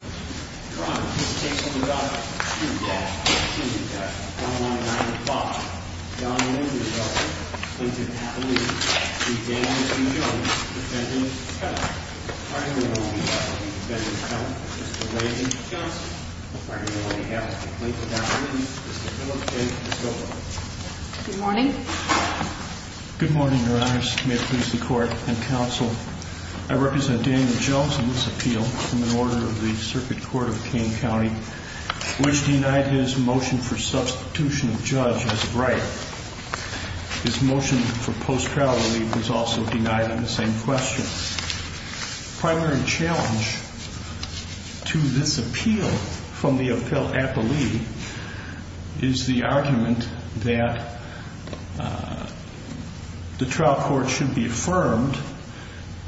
Good morning, your honors, may it please the court and counsel, I represent Daniel Jones in this appeal from an order of the circuit court of Kane County, which denied his motion for substitution of judge as of right. His motion for post-trial relief was also denied on the same question. The primary challenge to this appeal from the appellee is the argument that the trial court should be affirmed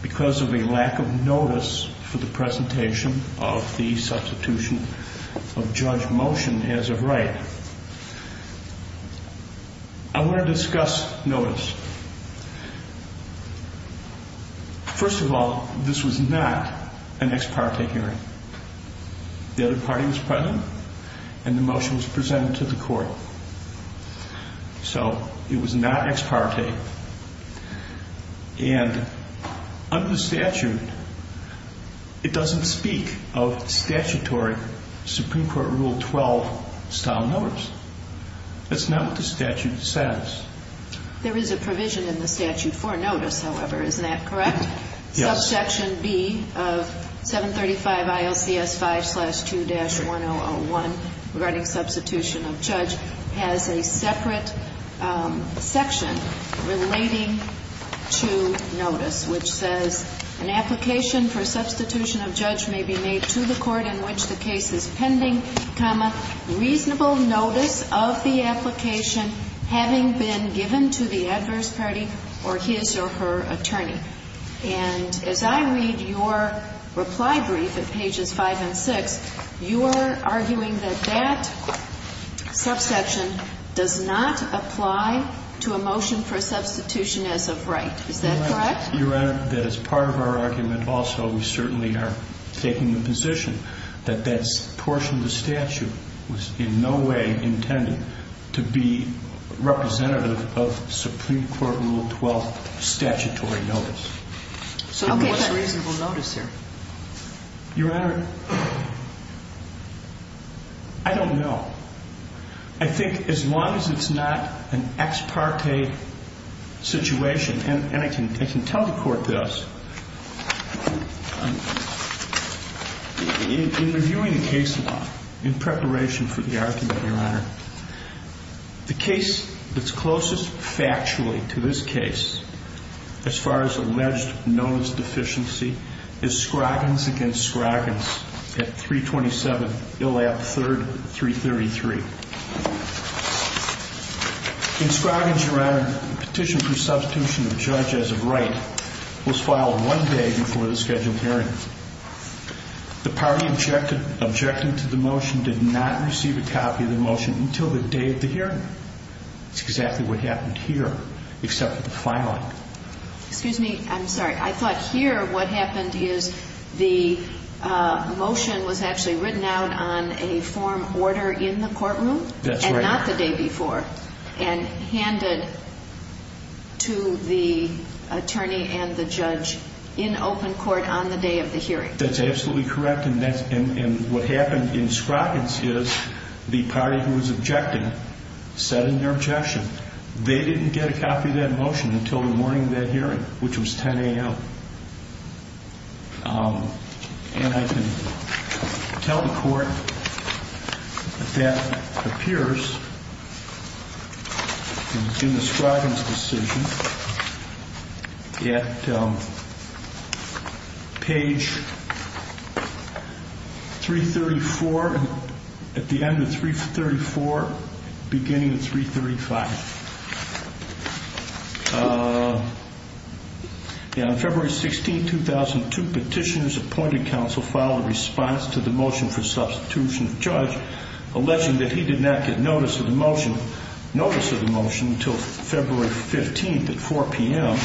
because of a lack of notice for the presentation of the substitution of judge motion as of right. I want to discuss notice. First of all, this was not an ex parte hearing. The other party was present and the motion was presented to the court. So it was not ex parte. And under the statute, it doesn't speak of statutory Supreme Court Rule 12 style notice. That's not what the statute says. There is a provision in the statute for notice, however, isn't that correct? Yes. Section B of 735 ILCS 5-2-1001 regarding substitution of judge has a separate section relating to notice, which says an application for substitution of judge may be made to the court in which the case is pending, reasonable notice of the application having been given to the adverse party or his or her attorney. And as I read your reply brief at pages 5 and 6, you are arguing that that subsection does not apply to a motion for substitution as of right. Is that correct? Your Honor, that is part of our argument also. We certainly are taking the position that that portion of the statute was in no way intended to be representative of Supreme Court Rule 12 statutory notice. So what is reasonable notice here? Your Honor, I don't know. I think as long as it's not an ex parte situation, and I can tell the court this, in reviewing the case law in preparation for the argument, Your Honor, the case that's closest factually to this case as far as alleged notice deficiency is Scroggins against Scroggins at 327 Illab 333. In Scroggins, Your Honor, the petition for substitution of judge as of right was filed one day before the scheduled hearing. The party objecting to the motion did not receive a copy of the motion until the day of the hearing. That's exactly what happened here except for the filing. Excuse me. I'm sorry. I thought here what happened is the motion was actually written out on a form order in the courtroom and not the day before and handed to the attorney and the judge in open court on the day of the hearing. That's absolutely correct. And what happened in Scroggins is the party who was objecting said in their objection they didn't get a copy of that motion until the morning of that hearing, which was 10 a.m. And I can tell the court that appears in the Scroggins decision at page 334 at the end of 334 beginning of 335. On February 16, 2002, petitioners appointed counsel filed a response to the motion for substitution of judge alleging that he did not get notice of the motion until February 15 at 4 p.m.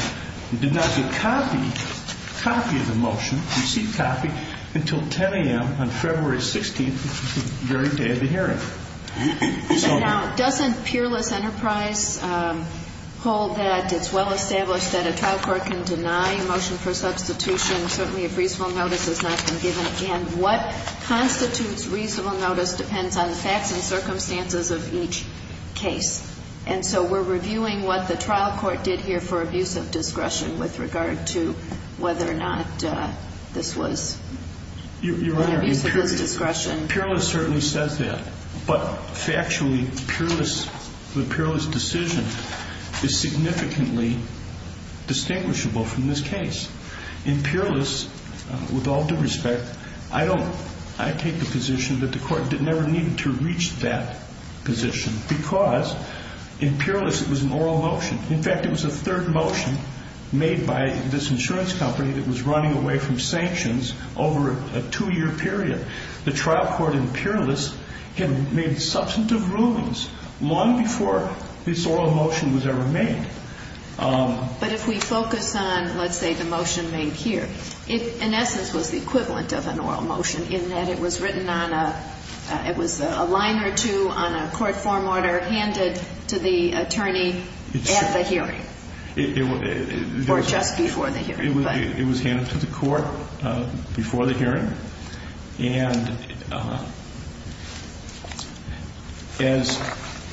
He did not get a copy of the motion, received copy, until 10 a.m. on February 16, the very day of the hearing. Now, doesn't Peerless Enterprise hold that it's well established that a trial court can deny a motion for substitution certainly if reasonable notice has not been given? And what constitutes reasonable notice depends on the facts and circumstances of each case. And so we're reviewing what the trial court did here for abuse of discretion with regard to whether or not this was an abuse of his discretion. Peerless certainly says that. But factually, the Peerless decision is significantly distinguishable from this case. In Peerless, with all due respect, I take the position that the court never needed to reach that position because in Peerless it was an oral motion. In fact, it was a third motion made by this insurance company that was running away from sanctions over a two-year period. The trial court in Peerless had made substantive rulings long before this oral motion was ever made. But if we focus on, let's say, the motion made here, it, in essence, was the equivalent of an oral motion in that it was written on a – it was a line or two on a court form order handed to the attorney at the hearing or just before the hearing. It was handed to the court before the hearing. And as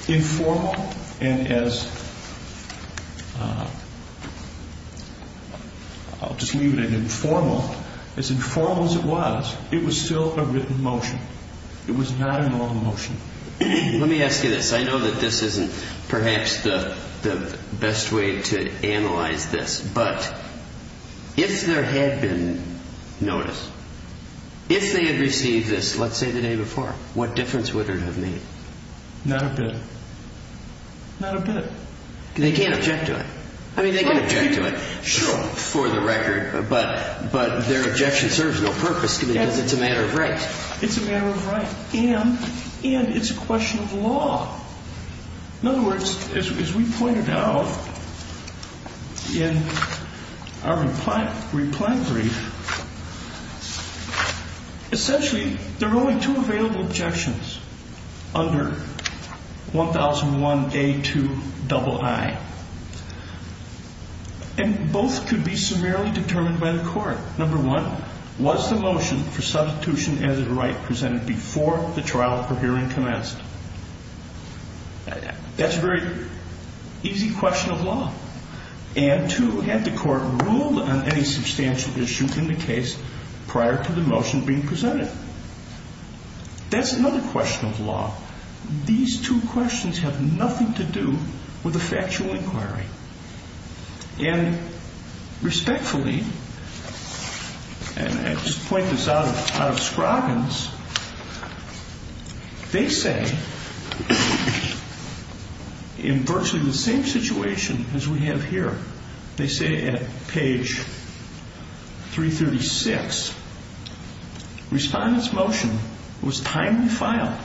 informal and as – I'll just leave it at informal. As informal as it was, it was still a written motion. It was not an oral motion. Let me ask you this. I know that this isn't perhaps the best way to analyze this. But if there had been notice, if they had received this, let's say, the day before, what difference would it have made? Not a bit. Not a bit. They can't object to it. I mean, they can object to it, sure, for the record, but their objection serves no purpose because it's a matter of right. It's a matter of right and it's a question of law. In other words, as we pointed out in our reply brief, essentially there are only two available objections under 1001A2II. And both could be summarily determined by the court. Number one, was the motion for substitution as of right presented before the trial for hearing commenced? That's a very easy question of law. And two, had the court ruled on any substantial issue in the case prior to the motion being presented? That's another question of law. These two questions have nothing to do with a factual inquiry. And respectfully, and I just point this out of Scroggins, they say in virtually the same situation as we have here, they say at page 336, respondent's motion was timely filed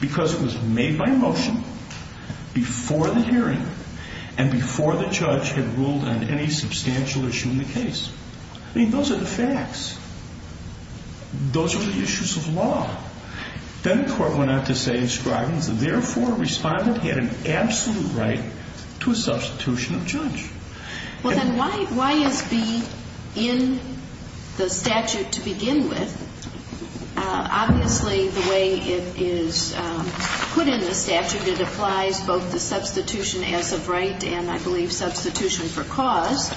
because it was made by motion before the hearing and before the judge had ruled on any substantial issue in the case. I mean, those are the facts. Those are the issues of law. Then the court went on to say in Scroggins, therefore, respondent had an absolute right to a substitution of judge. Well, then why is B in the statute to begin with? Obviously, the way it is put in the statute, it applies both the substitution as of right and, I believe, substitution for cause.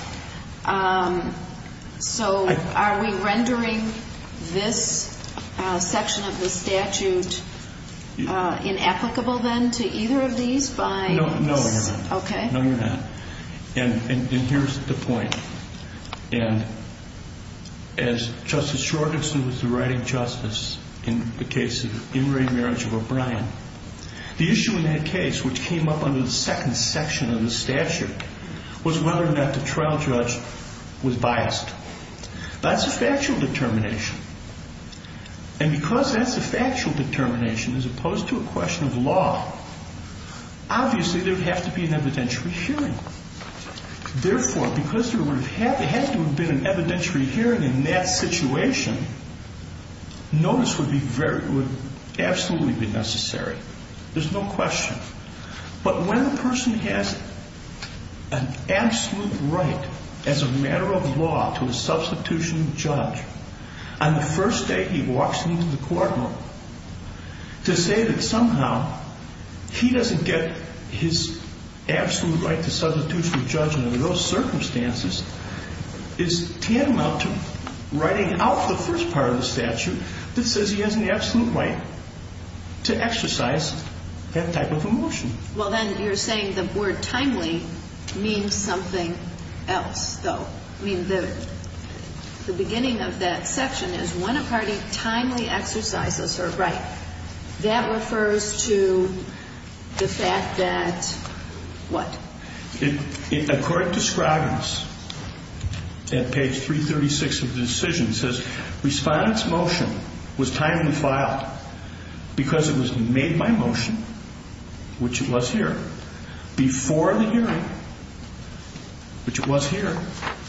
So are we rendering this section of the statute inapplicable then to either of these? No, you're not. Okay. No, you're not. And here's the point. And as Justice Scroggins was the writing justice in the case of in-ring marriage of O'Brien, the issue in that case which came up under the second section of the statute was whether or not the trial judge was biased. That's a factual determination. And because that's a factual determination as opposed to a question of law, obviously, there would have to be an evidentiary hearing. Therefore, because there would have to have been an evidentiary hearing in that situation, notice would absolutely be necessary. There's no question. But when a person has an absolute right as a matter of law to a substitution of judge, on the first day he walks into the courtroom, to say that somehow he doesn't get his absolute right to substitution of judge under those circumstances is tantamount to writing out the first part of the statute that says he has an absolute right to exercise that type of emotion. Well, then you're saying the word timely means something else, though. I mean, the beginning of that section is when a party timely exercises her right. That refers to the fact that what? According to Scroggins at page 336 of the decision, it says, Respondent's motion was timely filed because it was made by motion, which it was here, before the hearing, which it was here,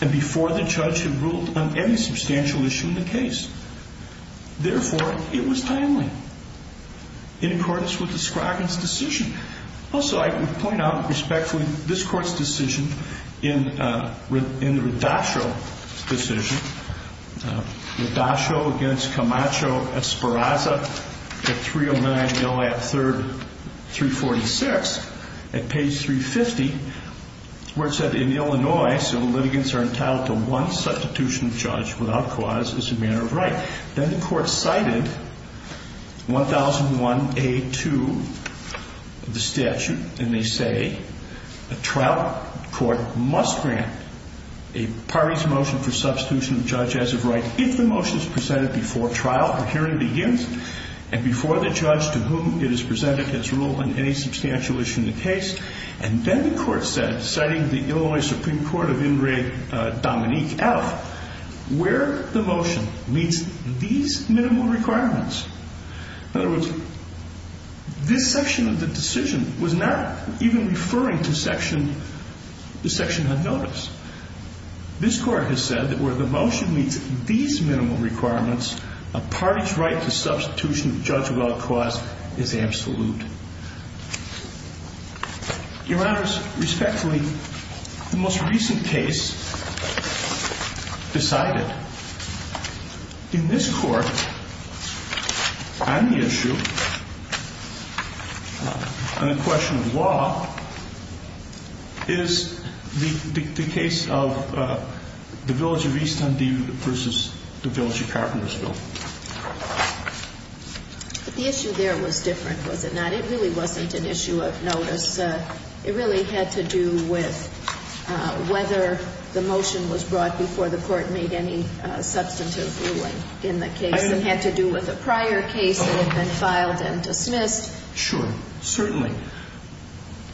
and before the judge had ruled on any substantial issue in the case. Therefore, it was timely. In accordance with the Scroggins decision. Also, I would point out, respectfully, this court's decision in the Radacho decision, Radacho against Camacho-Esparraza at 309 LAP 3rd, 346, at page 350, where it said, In Illinois, civil litigants are entitled to one substitution of judge without cause as a matter of right. Then the court cited 1001A2 of the statute, and they say, A trial court must grant a party's motion for substitution of judge as of right if the motion is presented before trial or hearing begins, and before the judge to whom it is presented has ruled on any substantial issue in the case. And then the court said, citing the Illinois Supreme Court of Ingray-Dominique out, where the motion meets these minimum requirements. In other words, this section of the decision was not even referring to the section on notice. This court has said that where the motion meets these minimum requirements, a party's right to substitution of judge without cause is absolute. Your Honor, respectfully, the most recent case decided. In this court, on the issue, on the question of law, is the case of the village of Easton versus the village of Carpentersville. But the issue there was different, was it not? It really wasn't an issue of notice. It really had to do with whether the motion was brought before the court made any substantive ruling in the case. It had to do with a prior case that had been filed and dismissed. Sure, certainly.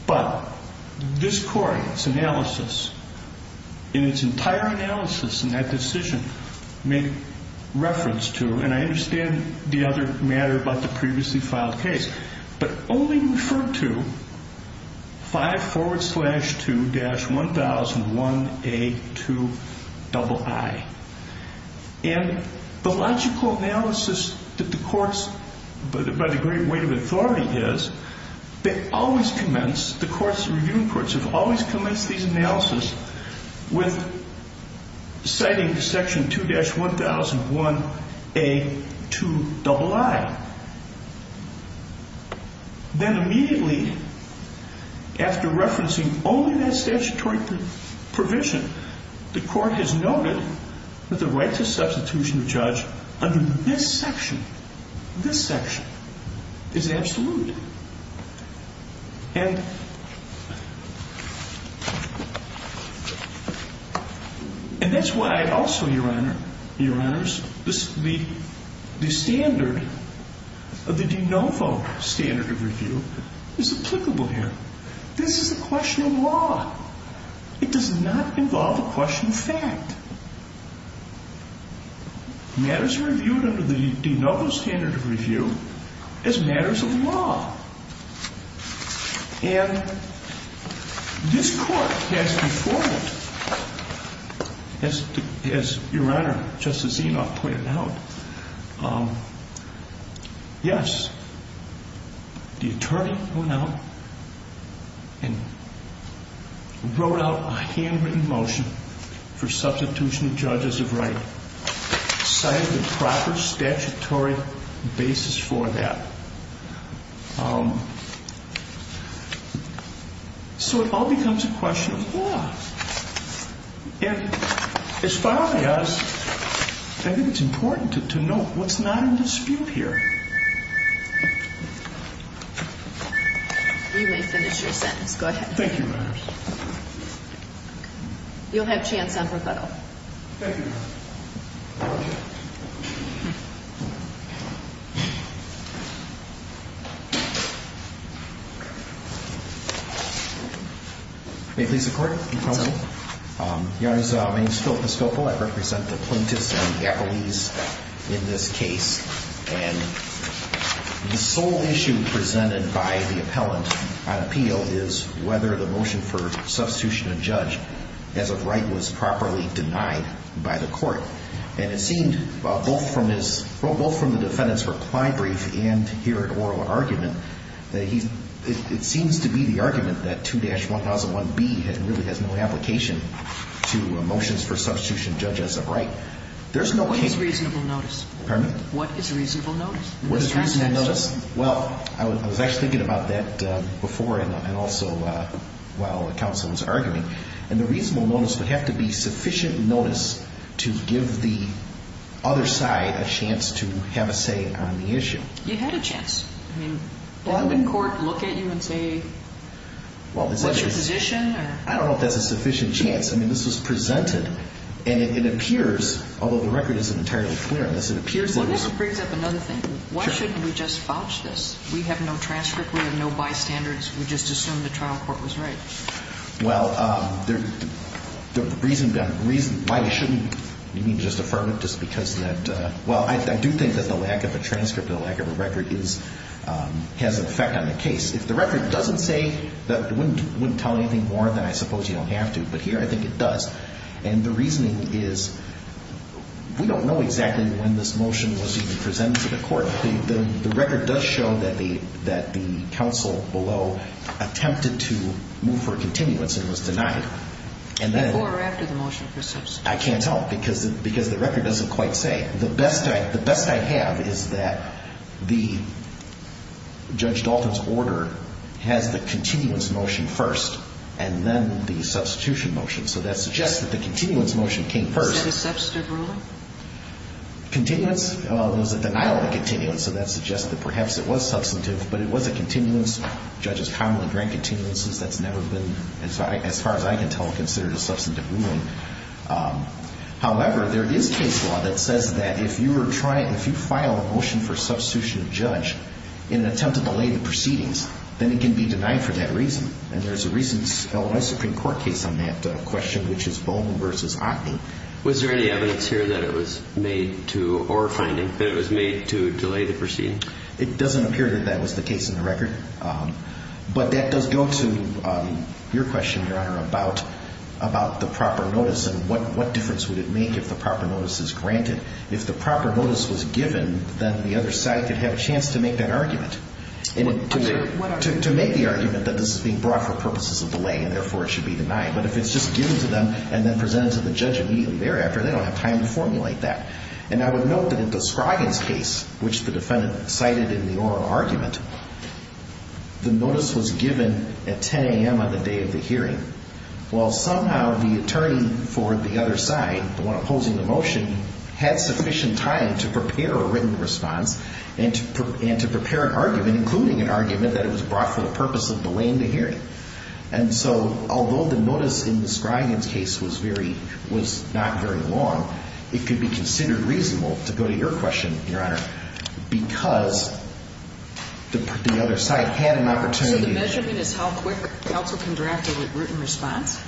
But this court, its analysis, in its entire analysis in that decision, made reference to, and I understand the other matter about the previously filed case, but only referred to 5 forward slash 2 dash 1001A2 double I. And the logical analysis that the courts, by the great weight of authority is, they always commence, the courts, the reviewing courts have always commenced these analysis with citing section 2 dash 1001A2 double I. Then immediately, after referencing only that statutory provision, the court has noted that the right to substitution of charge under this section, this section, is absolute. And that's why also, Your Honors, the standard of the de novo standard of review is applicable here. This is a question of law. It does not involve a question of fact. Matters are reviewed under the de novo standard of review as matters of law. And this court has before it, as Your Honor, Justice Enoff pointed out, yes, the attorney went out and wrote out a handwritten motion for substitution of charges of right, cited the proper statutory basis for that. So it all becomes a question of law. And as far as I think it's important to note what's not in dispute here. You may finish your sentence. Go ahead. Thank you, Your Honors. You'll have chance on rebuttal. Thank you, Your Honor. Thank you. May it please the Court? Yes, Your Honor. Your Honors, my name is Phil Piscopo. I represent the plaintiffs and the appellees in this case. And the sole issue presented by the appellant on appeal is whether the motion for substitution of judge as of right was properly denied by the court. And it seemed both from the defendant's reply brief and here at oral argument that it seems to be the argument that 2-1001B really has no application to motions for substitution judge as of right. There's no case. What is reasonable notice? Pardon me? What is reasonable notice? What is reasonable notice? Well, I was actually thinking about that before and also while the counsel was arguing. And the reasonable notice would have to be sufficient notice to give the other side a chance to have a say on the issue. You had a chance. I mean, didn't the court look at you and say, what's your position? I don't know if that's a sufficient chance. I mean, this was presented. And it appears, although the record isn't entirely clear on this, it appears that it was. Well, this brings up another thing. Why shouldn't we just vouch this? We have no transcript. We have no bystanders. We just assumed the trial court was right. Well, the reason why you shouldn't, you mean, just affirm it just because of that? Well, I do think that the lack of a transcript or the lack of a record has an effect on the case. If the record doesn't say that, it wouldn't tell anything more than I suppose you don't have to. But here I think it does. And the reasoning is we don't know exactly when this motion was even presented to the court. The record does show that the counsel below attempted to move for a continuance and was denied. Before or after the motion for substitution? I can't tell because the record doesn't quite say. The best I have is that Judge Dalton's order has the continuance motion first and then the substitution motion. So that suggests that the continuance motion came first. Is that a substitute ruling? Continuance? Well, there was a denial of continuance, so that suggests that perhaps it was substantive, but it was a continuance. Judges commonly grant continuances. That's never been, as far as I can tell, considered a substantive ruling. However, there is case law that says that if you file a motion for substitution of judge in an attempt to delay the proceedings, then it can be denied for that reason. And there's a recent Illinois Supreme Court case on that question, which is Bowman v. Acme. Was there any evidence here that it was made to, or a finding, that it was made to delay the proceedings? It doesn't appear that that was the case in the record, but that does go to your question, Your Honor, about the proper notice and what difference would it make if the proper notice is granted. If the proper notice was given, then the other side could have a chance to make that argument, to make the argument that this is being brought for purposes of delay and therefore it should be denied. But if it's just given to them and then presented to the judge immediately thereafter, they don't have time to formulate that. And I would note that in the Scroggins case, which the defendant cited in the oral argument, the notice was given at 10 a.m. on the day of the hearing. Well, somehow the attorney for the other side, the one opposing the motion, had sufficient time to prepare a written response and to prepare an argument, including an argument that it was brought for the purpose of delaying the hearing. And so although the notice in the Scroggins case was very, was not very long, it could be considered reasonable to go to your question, Your Honor, because the other side had an opportunity. So the measurement is how quick counsel can draft a written response?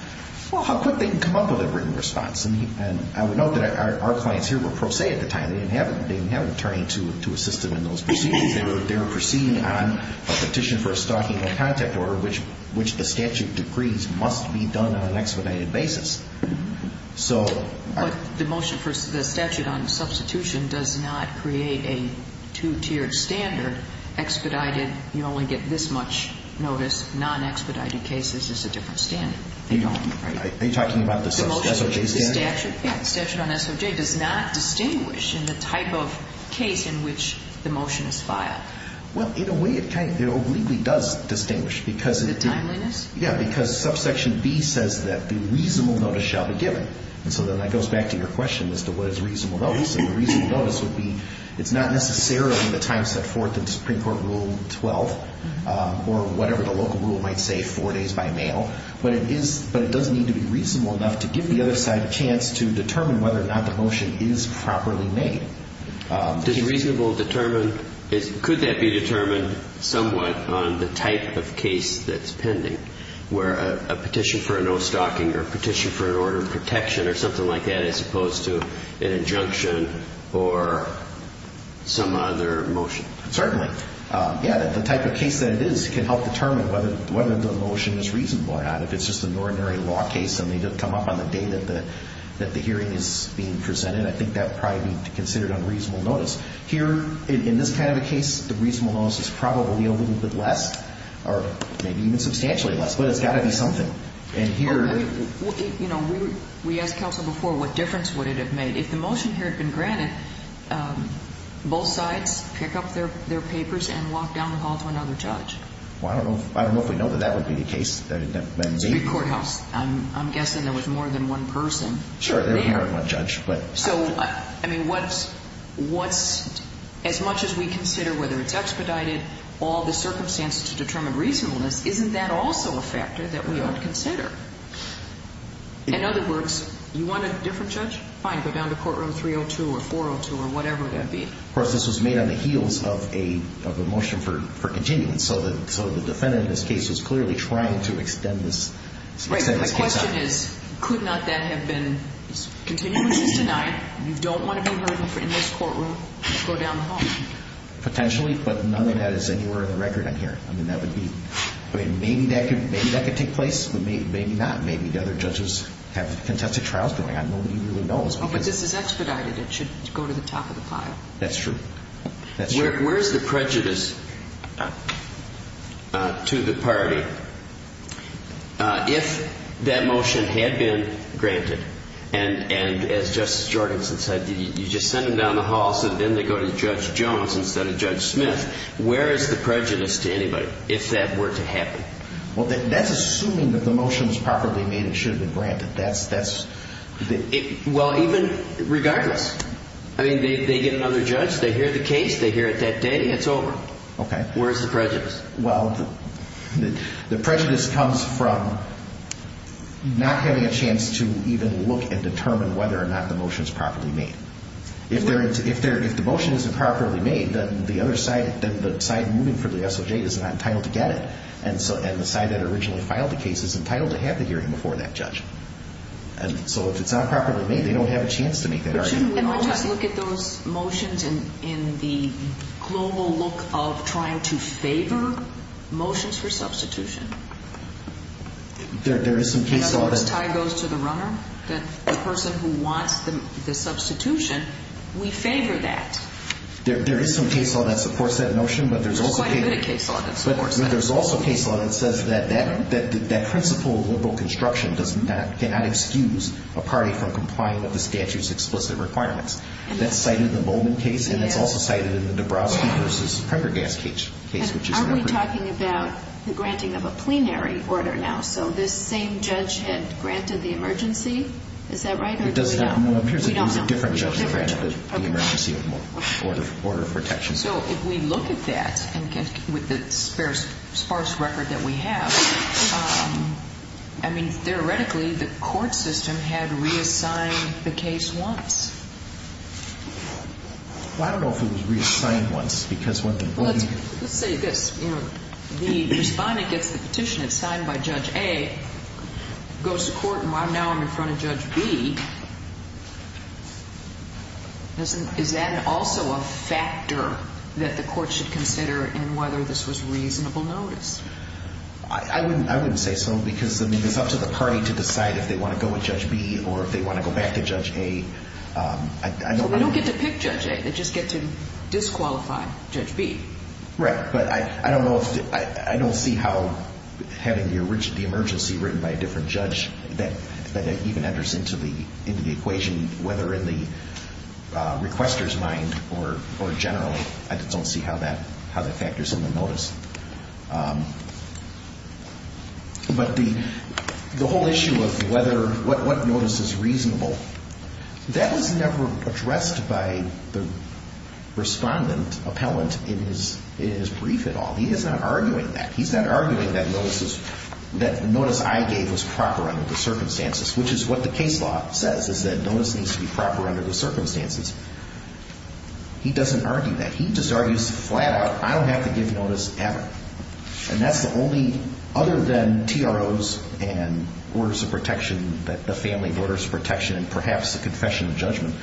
Well, how quick they can come up with a written response. And I would note that our clients here were pro se at the time. They didn't have an attorney to assist them in those proceedings. They were proceeding on a petition for a stocking of contact order, which the statute decrees must be done on an expedited basis. But the motion for the statute on substitution does not create a two-tiered standard, expedited. You only get this much notice. Non-expedited cases, it's a different standard. Are you talking about the SOJ statute? The statute on SOJ does not distinguish in the type of case in which the motion is filed. Well, in a way it kind of, it obliquely does distinguish. The timeliness? Yeah, because subsection B says that the reasonable notice shall be given. And so then that goes back to your question as to what is reasonable notice. And the reasonable notice would be, it's not necessarily the time set forth in Supreme Court Rule 12 or whatever the local rule might say, four days by mail, but it does need to be reasonable enough to give the other side a chance to determine whether or not the motion is properly made. Does reasonable determine, could that be determined somewhat on the type of case that's pending, where a petition for a no stocking or a petition for an order of protection or something like that as opposed to an injunction or some other motion? Certainly. Yeah, the type of case that it is can help determine whether the motion is reasonable or not. If it's just an ordinary law case and they didn't come up on the day that the hearing is being presented, I think that would probably be considered unreasonable notice. Here, in this kind of a case, the reasonable notice is probably a little bit less, or maybe even substantially less, but it's got to be something. And here... You know, we asked counsel before what difference would it have made. If the motion here had been granted, both sides pick up their papers and walk down the hall to another judge. Well, I don't know if we know that that would be the case. It's a big courthouse. I'm guessing there was more than one person. Sure, there was more than one judge, but... So, I mean, what's... As much as we consider whether it's expedited, all the circumstances to determine reasonableness, isn't that also a factor that we ought to consider? In other words, you want a different judge? Fine, go down to courtroom 302 or 402 or whatever that be. Of course, this was made on the heels of a motion for continuance, so the defendant in this case was clearly trying to extend this case out. Right, but the question is, could not that have been... Continuance is denied. You don't want to be heard in this courtroom. Go down the hall. Potentially, but none of that is anywhere in the record on here. I mean, that would be... I mean, maybe that could take place. Maybe not. Maybe the other judges have contested trials going on. Nobody really knows. Oh, but this is expedited. It should go to the top of the pile. That's true. That's true. Where is the prejudice to the party if that motion had been granted? And as Justice Jorgenson said, you just send them down the hall so then they go to Judge Jones instead of Judge Smith. Where is the prejudice to anybody if that were to happen? Well, that's assuming that the motion is properly made and should have been granted. Well, even regardless. I mean, they get another judge, they hear the case, they hear it that day, and it's over. Okay. Where is the prejudice? Well, the prejudice comes from not having a chance to even look and determine whether or not the motion is properly made. If the motion isn't properly made, then the side moving for the SOJ is not entitled to get it. And the side that originally filed the case is entitled to have the hearing before that judge. And so if it's not properly made, they don't have a chance to make that argument. But shouldn't we all just look at those motions in the global look of trying to favor motions for substitution? In other words, tie goes to the runner? The person who wants the substitution, we favor that. There is some case law that supports that notion. There's quite a bit of case law that supports that. There's also case law that says that that principle of liberal construction cannot excuse a party from complying with the statute's explicit requirements. That's cited in the Bowman case, and it's also cited in the Dabrowski v. Prendergast case. Aren't we talking about the granting of a plenary order now? So this same judge had granted the emergency? Is that right? It appears that it was a different judge that granted the emergency order of protection. So if we look at that with the sparse record that we have, theoretically the court system had reassigned the case once. I don't know if it was reassigned once. Let's say this. The respondent gets the petition, it's signed by Judge A, goes to court, and now I'm in front of Judge B. Is that also a factor that the court should consider in whether this was reasonable notice? I wouldn't say so because it's up to the party to decide if they want to go with Judge B or if they want to go back to Judge A. They don't get to pick Judge A. They just get to disqualify Judge B. Right, but I don't see how having the emergency written by a different judge that even enters into the equation, whether in the requester's mind or generally, I don't see how that factors in the notice. But the whole issue of what notice is reasonable, that was never addressed by the respondent appellant in his brief at all. He is not arguing that. Notice I gave was proper under the circumstances, which is what the case law says is that notice needs to be proper under the circumstances. He doesn't argue that. He just argues flat out, I don't have to give notice ever. And that's the only, other than TROs and orders of protection, the family orders of protection and perhaps the confession of judgment,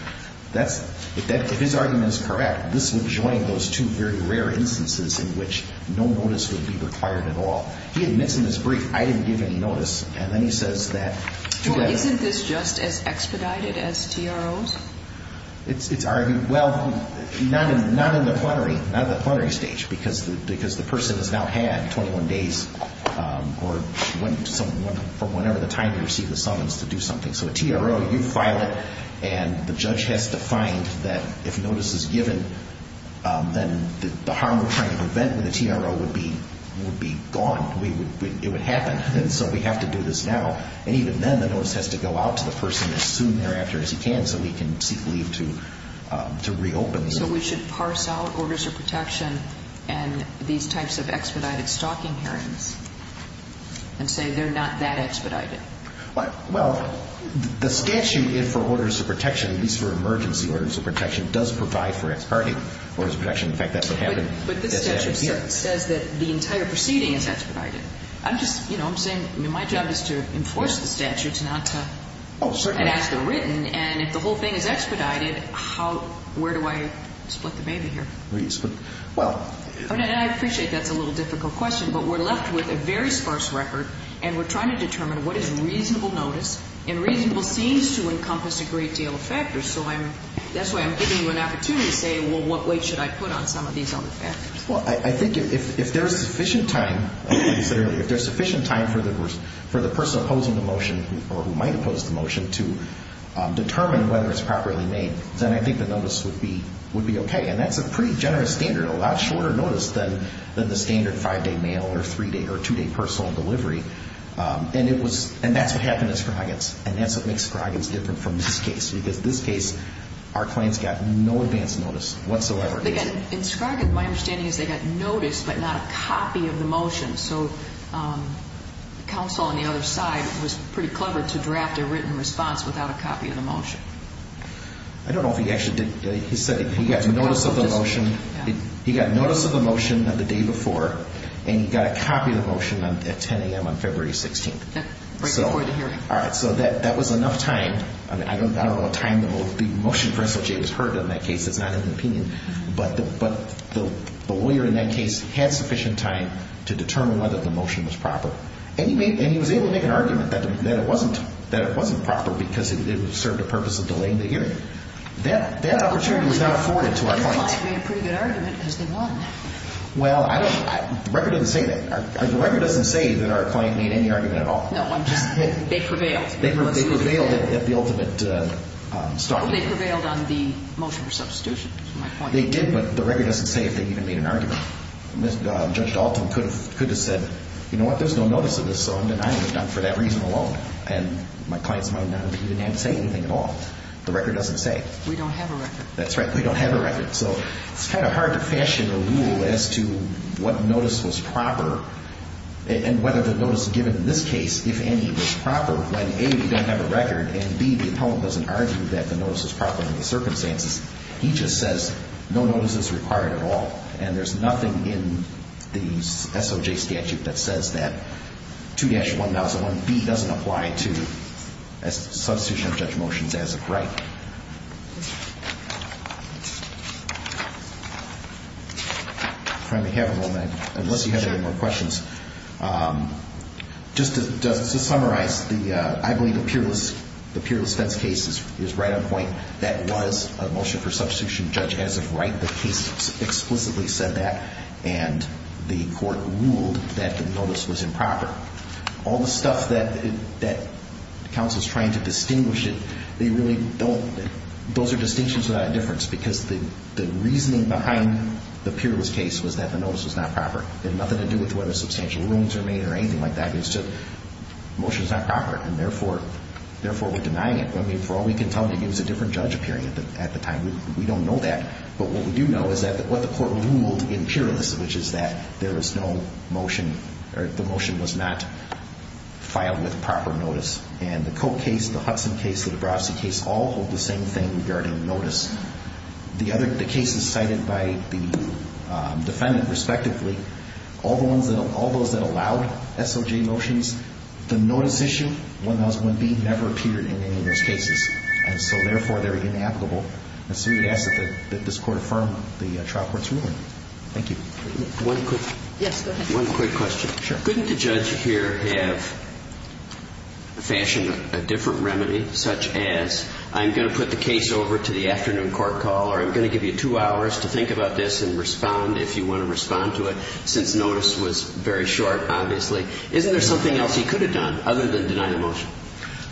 if his argument is correct, this would join those two very rare instances in which no notice would be required at all. He admits in his brief, I didn't give any notice. And then he says that. Well, isn't this just as expedited as TROs? It's argued, well, not in the plenary, not at the plenary stage, because the person has now had 21 days or whenever the time you receive the summons to do something. So a TRO, you file it, and the judge has to find that if notice is given, then the harm we're trying to prevent with a TRO would be gone. It would happen. And so we have to do this now. And even then, the notice has to go out to the person as soon thereafter as you can so we can seek leave to reopen. So we should parse out orders of protection and these types of expedited stalking hearings and say they're not that expedited? Well, the statute for orders of protection, at least for emergency orders of protection, does provide for exparting orders of protection. In fact, that's what happened. But this statute says that the entire proceeding is expedited. I'm just, you know, I'm saying my job is to enforce the statutes, not to ask they're written. And if the whole thing is expedited, where do I split the baby here? Well, I appreciate that's a little difficult question, but we're left with a very sparse record and we're trying to determine what is reasonable notice. And reasonable seems to encompass a great deal of factors. So that's why I'm giving you an opportunity to say, well, what weight should I put on some of these other factors? Well, I think if there's sufficient time, as you said earlier, if there's sufficient time for the person opposing the motion or who might oppose the motion to determine whether it's properly made, then I think the notice would be okay. And that's a pretty generous standard, a lot shorter notice than the standard 5-day mail or 3-day or 2-day personal delivery. And it was ñ and that's what happened in Scroggins. And that's what makes Scroggins different from this case. Because this case, our clients got no advance notice whatsoever. Again, in Scroggins, my understanding is they got notice but not a copy of the motion. So counsel on the other side was pretty clever to draft a written response without a copy of the motion. I don't know if he actually did. He said he got notice of the motion the day before and he got a copy of the motion at 10 a.m. on February 16th. So that was enough time. I don't know what time the motion for SOJ was heard in that case. That's not an opinion. But the lawyer in that case had sufficient time to determine whether the motion was proper. And he was able to make an argument that it wasn't proper because it served a purpose of delaying the hearing. That opportunity was not afforded to our client. Our client made a pretty good argument because they won. Well, I don't know. The record doesn't say that. The record doesn't say that our client made any argument at all. No, they prevailed. They prevailed at the ultimate start. They prevailed on the motion for substitution, is my point. They did, but the record doesn't say if they even made an argument. Judge Dalton could have said, you know what, there's no notice of this, so I'm denying it for that reason alone. And my client's mind, he didn't have to say anything at all. The record doesn't say. We don't have a record. That's right. We don't have a record. So it's kind of hard to fashion a rule as to what notice was proper and whether the notice given in this case, if any, was proper, when, A, we don't have a record, and, B, the appellant doesn't argue that the notice was proper in the circumstances. He just says no notice is required at all. And there's nothing in the SOJ statute that says that 2-1001B doesn't apply to substitution of judge motions as of right. If I may have a moment, unless you have any more questions. Just to summarize, I believe the peerless fence case is right on point. That was a motion for substitution of judge as of right. The case explicitly said that, and the court ruled that the notice was improper. All the stuff that counsel's trying to distinguish it, they really don't have a record. Well, those are distinctions without a difference because the reasoning behind the peerless case was that the notice was not proper. It had nothing to do with whether substantial rooms were made or anything like that. It's just the motion's not proper, and therefore we're denying it. I mean, for all we can tell, maybe it was a different judge appearing at the time. We don't know that. But what we do know is what the court ruled in peerless, which is that there was no motion, or the motion was not filed with proper notice. And the Koch case, the Hudson case, the DeBrasi case all hold the same thing regarding notice. The other cases cited by the defendant respectively, all those that allowed SOJ motions, the notice issue, 1001B, never appeared in any of those cases. And so, therefore, they're inapplicable. And so we ask that this Court affirm the trial court's ruling. Thank you. One quick question. Sure. Couldn't the judge here have fashioned a different remedy such as I'm going to put the case over to the afternoon court call or I'm going to give you two hours to think about this and respond if you want to respond to it since notice was very short, obviously? Isn't there something else he could have done other than deny the motion?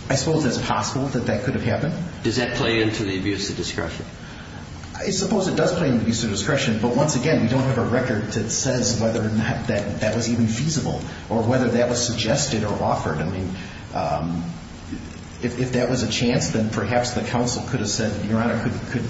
I suppose it's possible that that could have happened. Does that play into the abuse of discretion? I suppose it does play into the abuse of discretion. But once again, we don't have a record that says whether or not that was even feasible or whether that was suggested or offered. I mean, if that was a chance, then perhaps the counsel could have said, Your Honor, could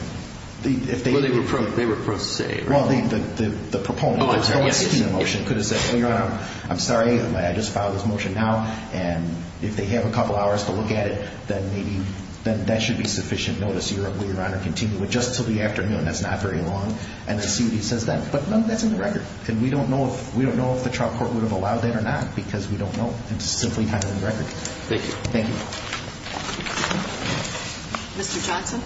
they – Well, they were pro se, right? Well, the proponent of the motion could have said, well, Your Honor, I'm sorry, I just filed this motion now. And if they have a couple hours to look at it, then maybe that should be sufficient notice, Your Honor, to continue with just until the afternoon. That's not very long. And let's see what he says then. But that's in the record. And we don't know if the trial court would have allowed that or not because we don't know. It's simply not in the record. Thank you. Thank you. Mr. Johnson?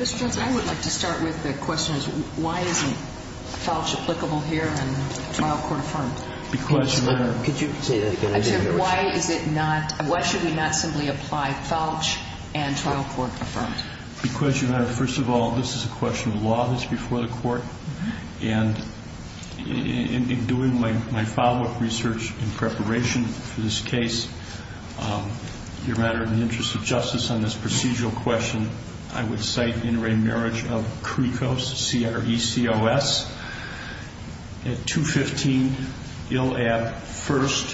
Mr. Johnson, I would like to start with the question is why isn't falch applicable here and trial court affirmed? Because, Your Honor – Could you say that again? I said why is it not – why should we not simply apply falch and trial court affirmed? Because, Your Honor, first of all, this is a question of law that's before the court. And in doing my follow-up research in preparation for this case, Your Honor, in the interest of justice on this procedural question, I would cite inter-array marriage of CRECOS, C-R-E-C-O-S, at 215 Ill Ave. 1st,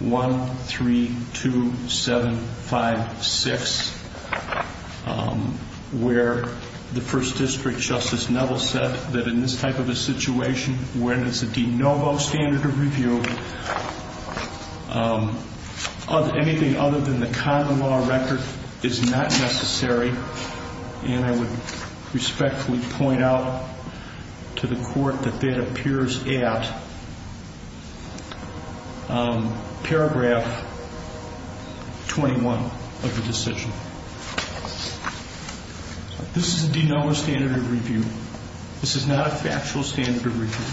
132756, where the 1st District Justice Neville said that in this type of a situation, where there's a de novo standard of review, anything other than the common law record is not necessary. And I would respectfully point out to the court that that appears at paragraph 21 of the decision. This is a de novo standard of review. This is not a factual standard of review.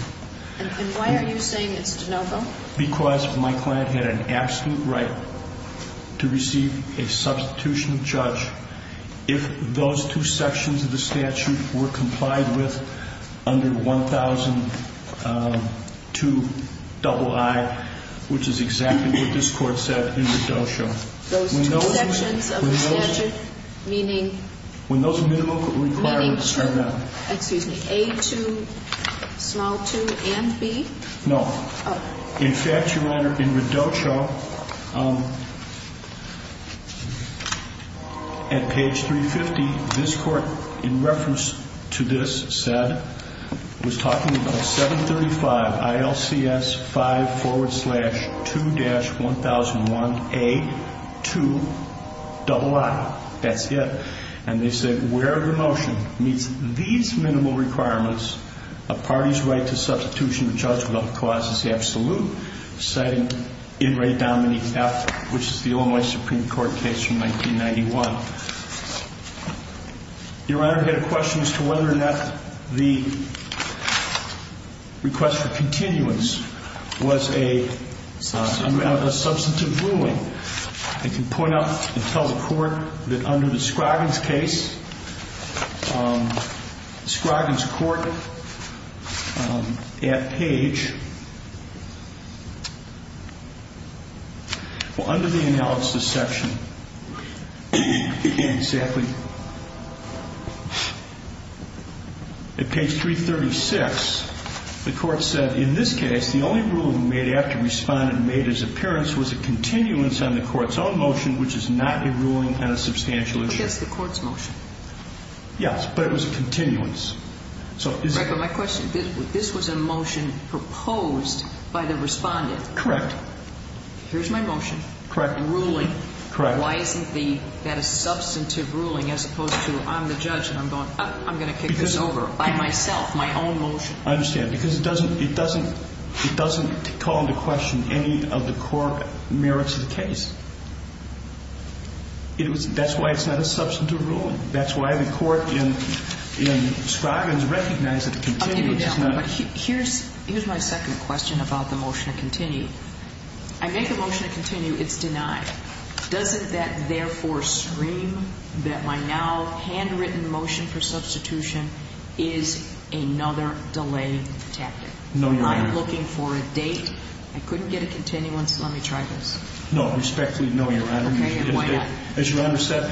And why are you saying it's de novo? Because my client had an absolute right to receive a substitution of charge if those two sections of the statute were complied with under 1002 III, which is exactly what this Court said in the Dojo. Those two sections of the statute, meaning? When those minimum requirements are met. Meaning, excuse me, A-2, small 2, and B? Oh. In fact, Your Honor, in Redojo, at page 350, this Court, in reference to this, was talking about 735 ILCS 5 forward slash 2-1001 A-2, double I. That's it. And they said, where the motion meets these minimal requirements, a party's right to substitution of charge without cause is absolute, citing In Re Domini F, which is the only Supreme Court case from 1991. Your Honor, I had a question as to whether or not the request for continuance was a substantive ruling. I can point out and tell the Court that under the Scroggins case, Scroggins Court, at page, well, under the analysis section, exactly, at page 336, the Court said, in this case, the only ruling made after Respondent made his appearance was a continuance on the Court's own motion, which is not a ruling on a substantial issue. But that's the Court's motion. Yes, but it was a continuance. Correct. But my question, this was a motion proposed by the Respondent. Correct. Here's my motion. Correct. A ruling. Correct. Why isn't that a substantive ruling as opposed to, I'm the judge, and I'm going to kick this over by myself, my own motion? I understand. Because it doesn't call into question any of the court merits of the case. That's why it's not a substantive ruling. That's why the Court in Scroggins recognized that a continuance is not. Okay, but here's my second question about the motion to continue. I make a motion to continue. It's denied. Doesn't that therefore stream that my now handwritten motion for substitution is another delayed tactic? No, Your Honor. I'm not looking for a date. I couldn't get a continuance. Let me try this. No, respectfully, no, Your Honor. Okay, and why not? As you understand,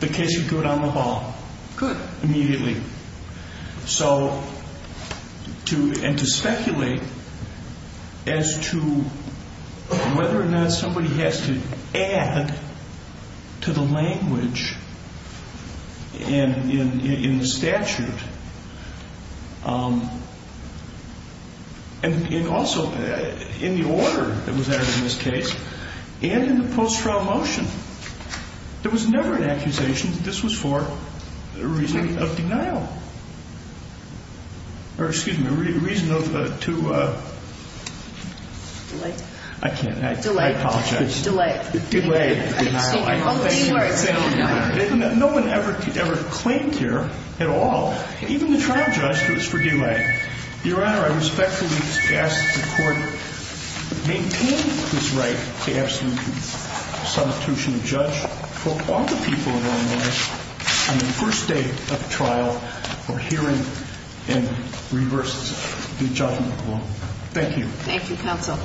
the case would go down the hall. Good. Immediately. So, and to speculate as to whether or not somebody has to add to the language in the statute, and also in the order that was added in this case, and in the post-trial motion, there was never an accusation that this was for a reason of denial. Or, excuse me, a reason of, to, I can't. Delay. I apologize. Delay. Delay, denial. No one ever claimed here at all, even the trial judge, who was for delay. Your Honor, I respectfully ask that the Court maintain this right to absolute substitution of judge for all the people in Illinois on the first day of trial for hearing and reverses the judgment rule. Thank you. Thank you, Counsel.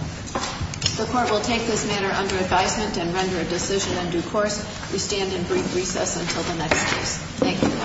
The Court will take this matter under advisement and render a decision in due course. We stand in brief recess until the next case. Thank you.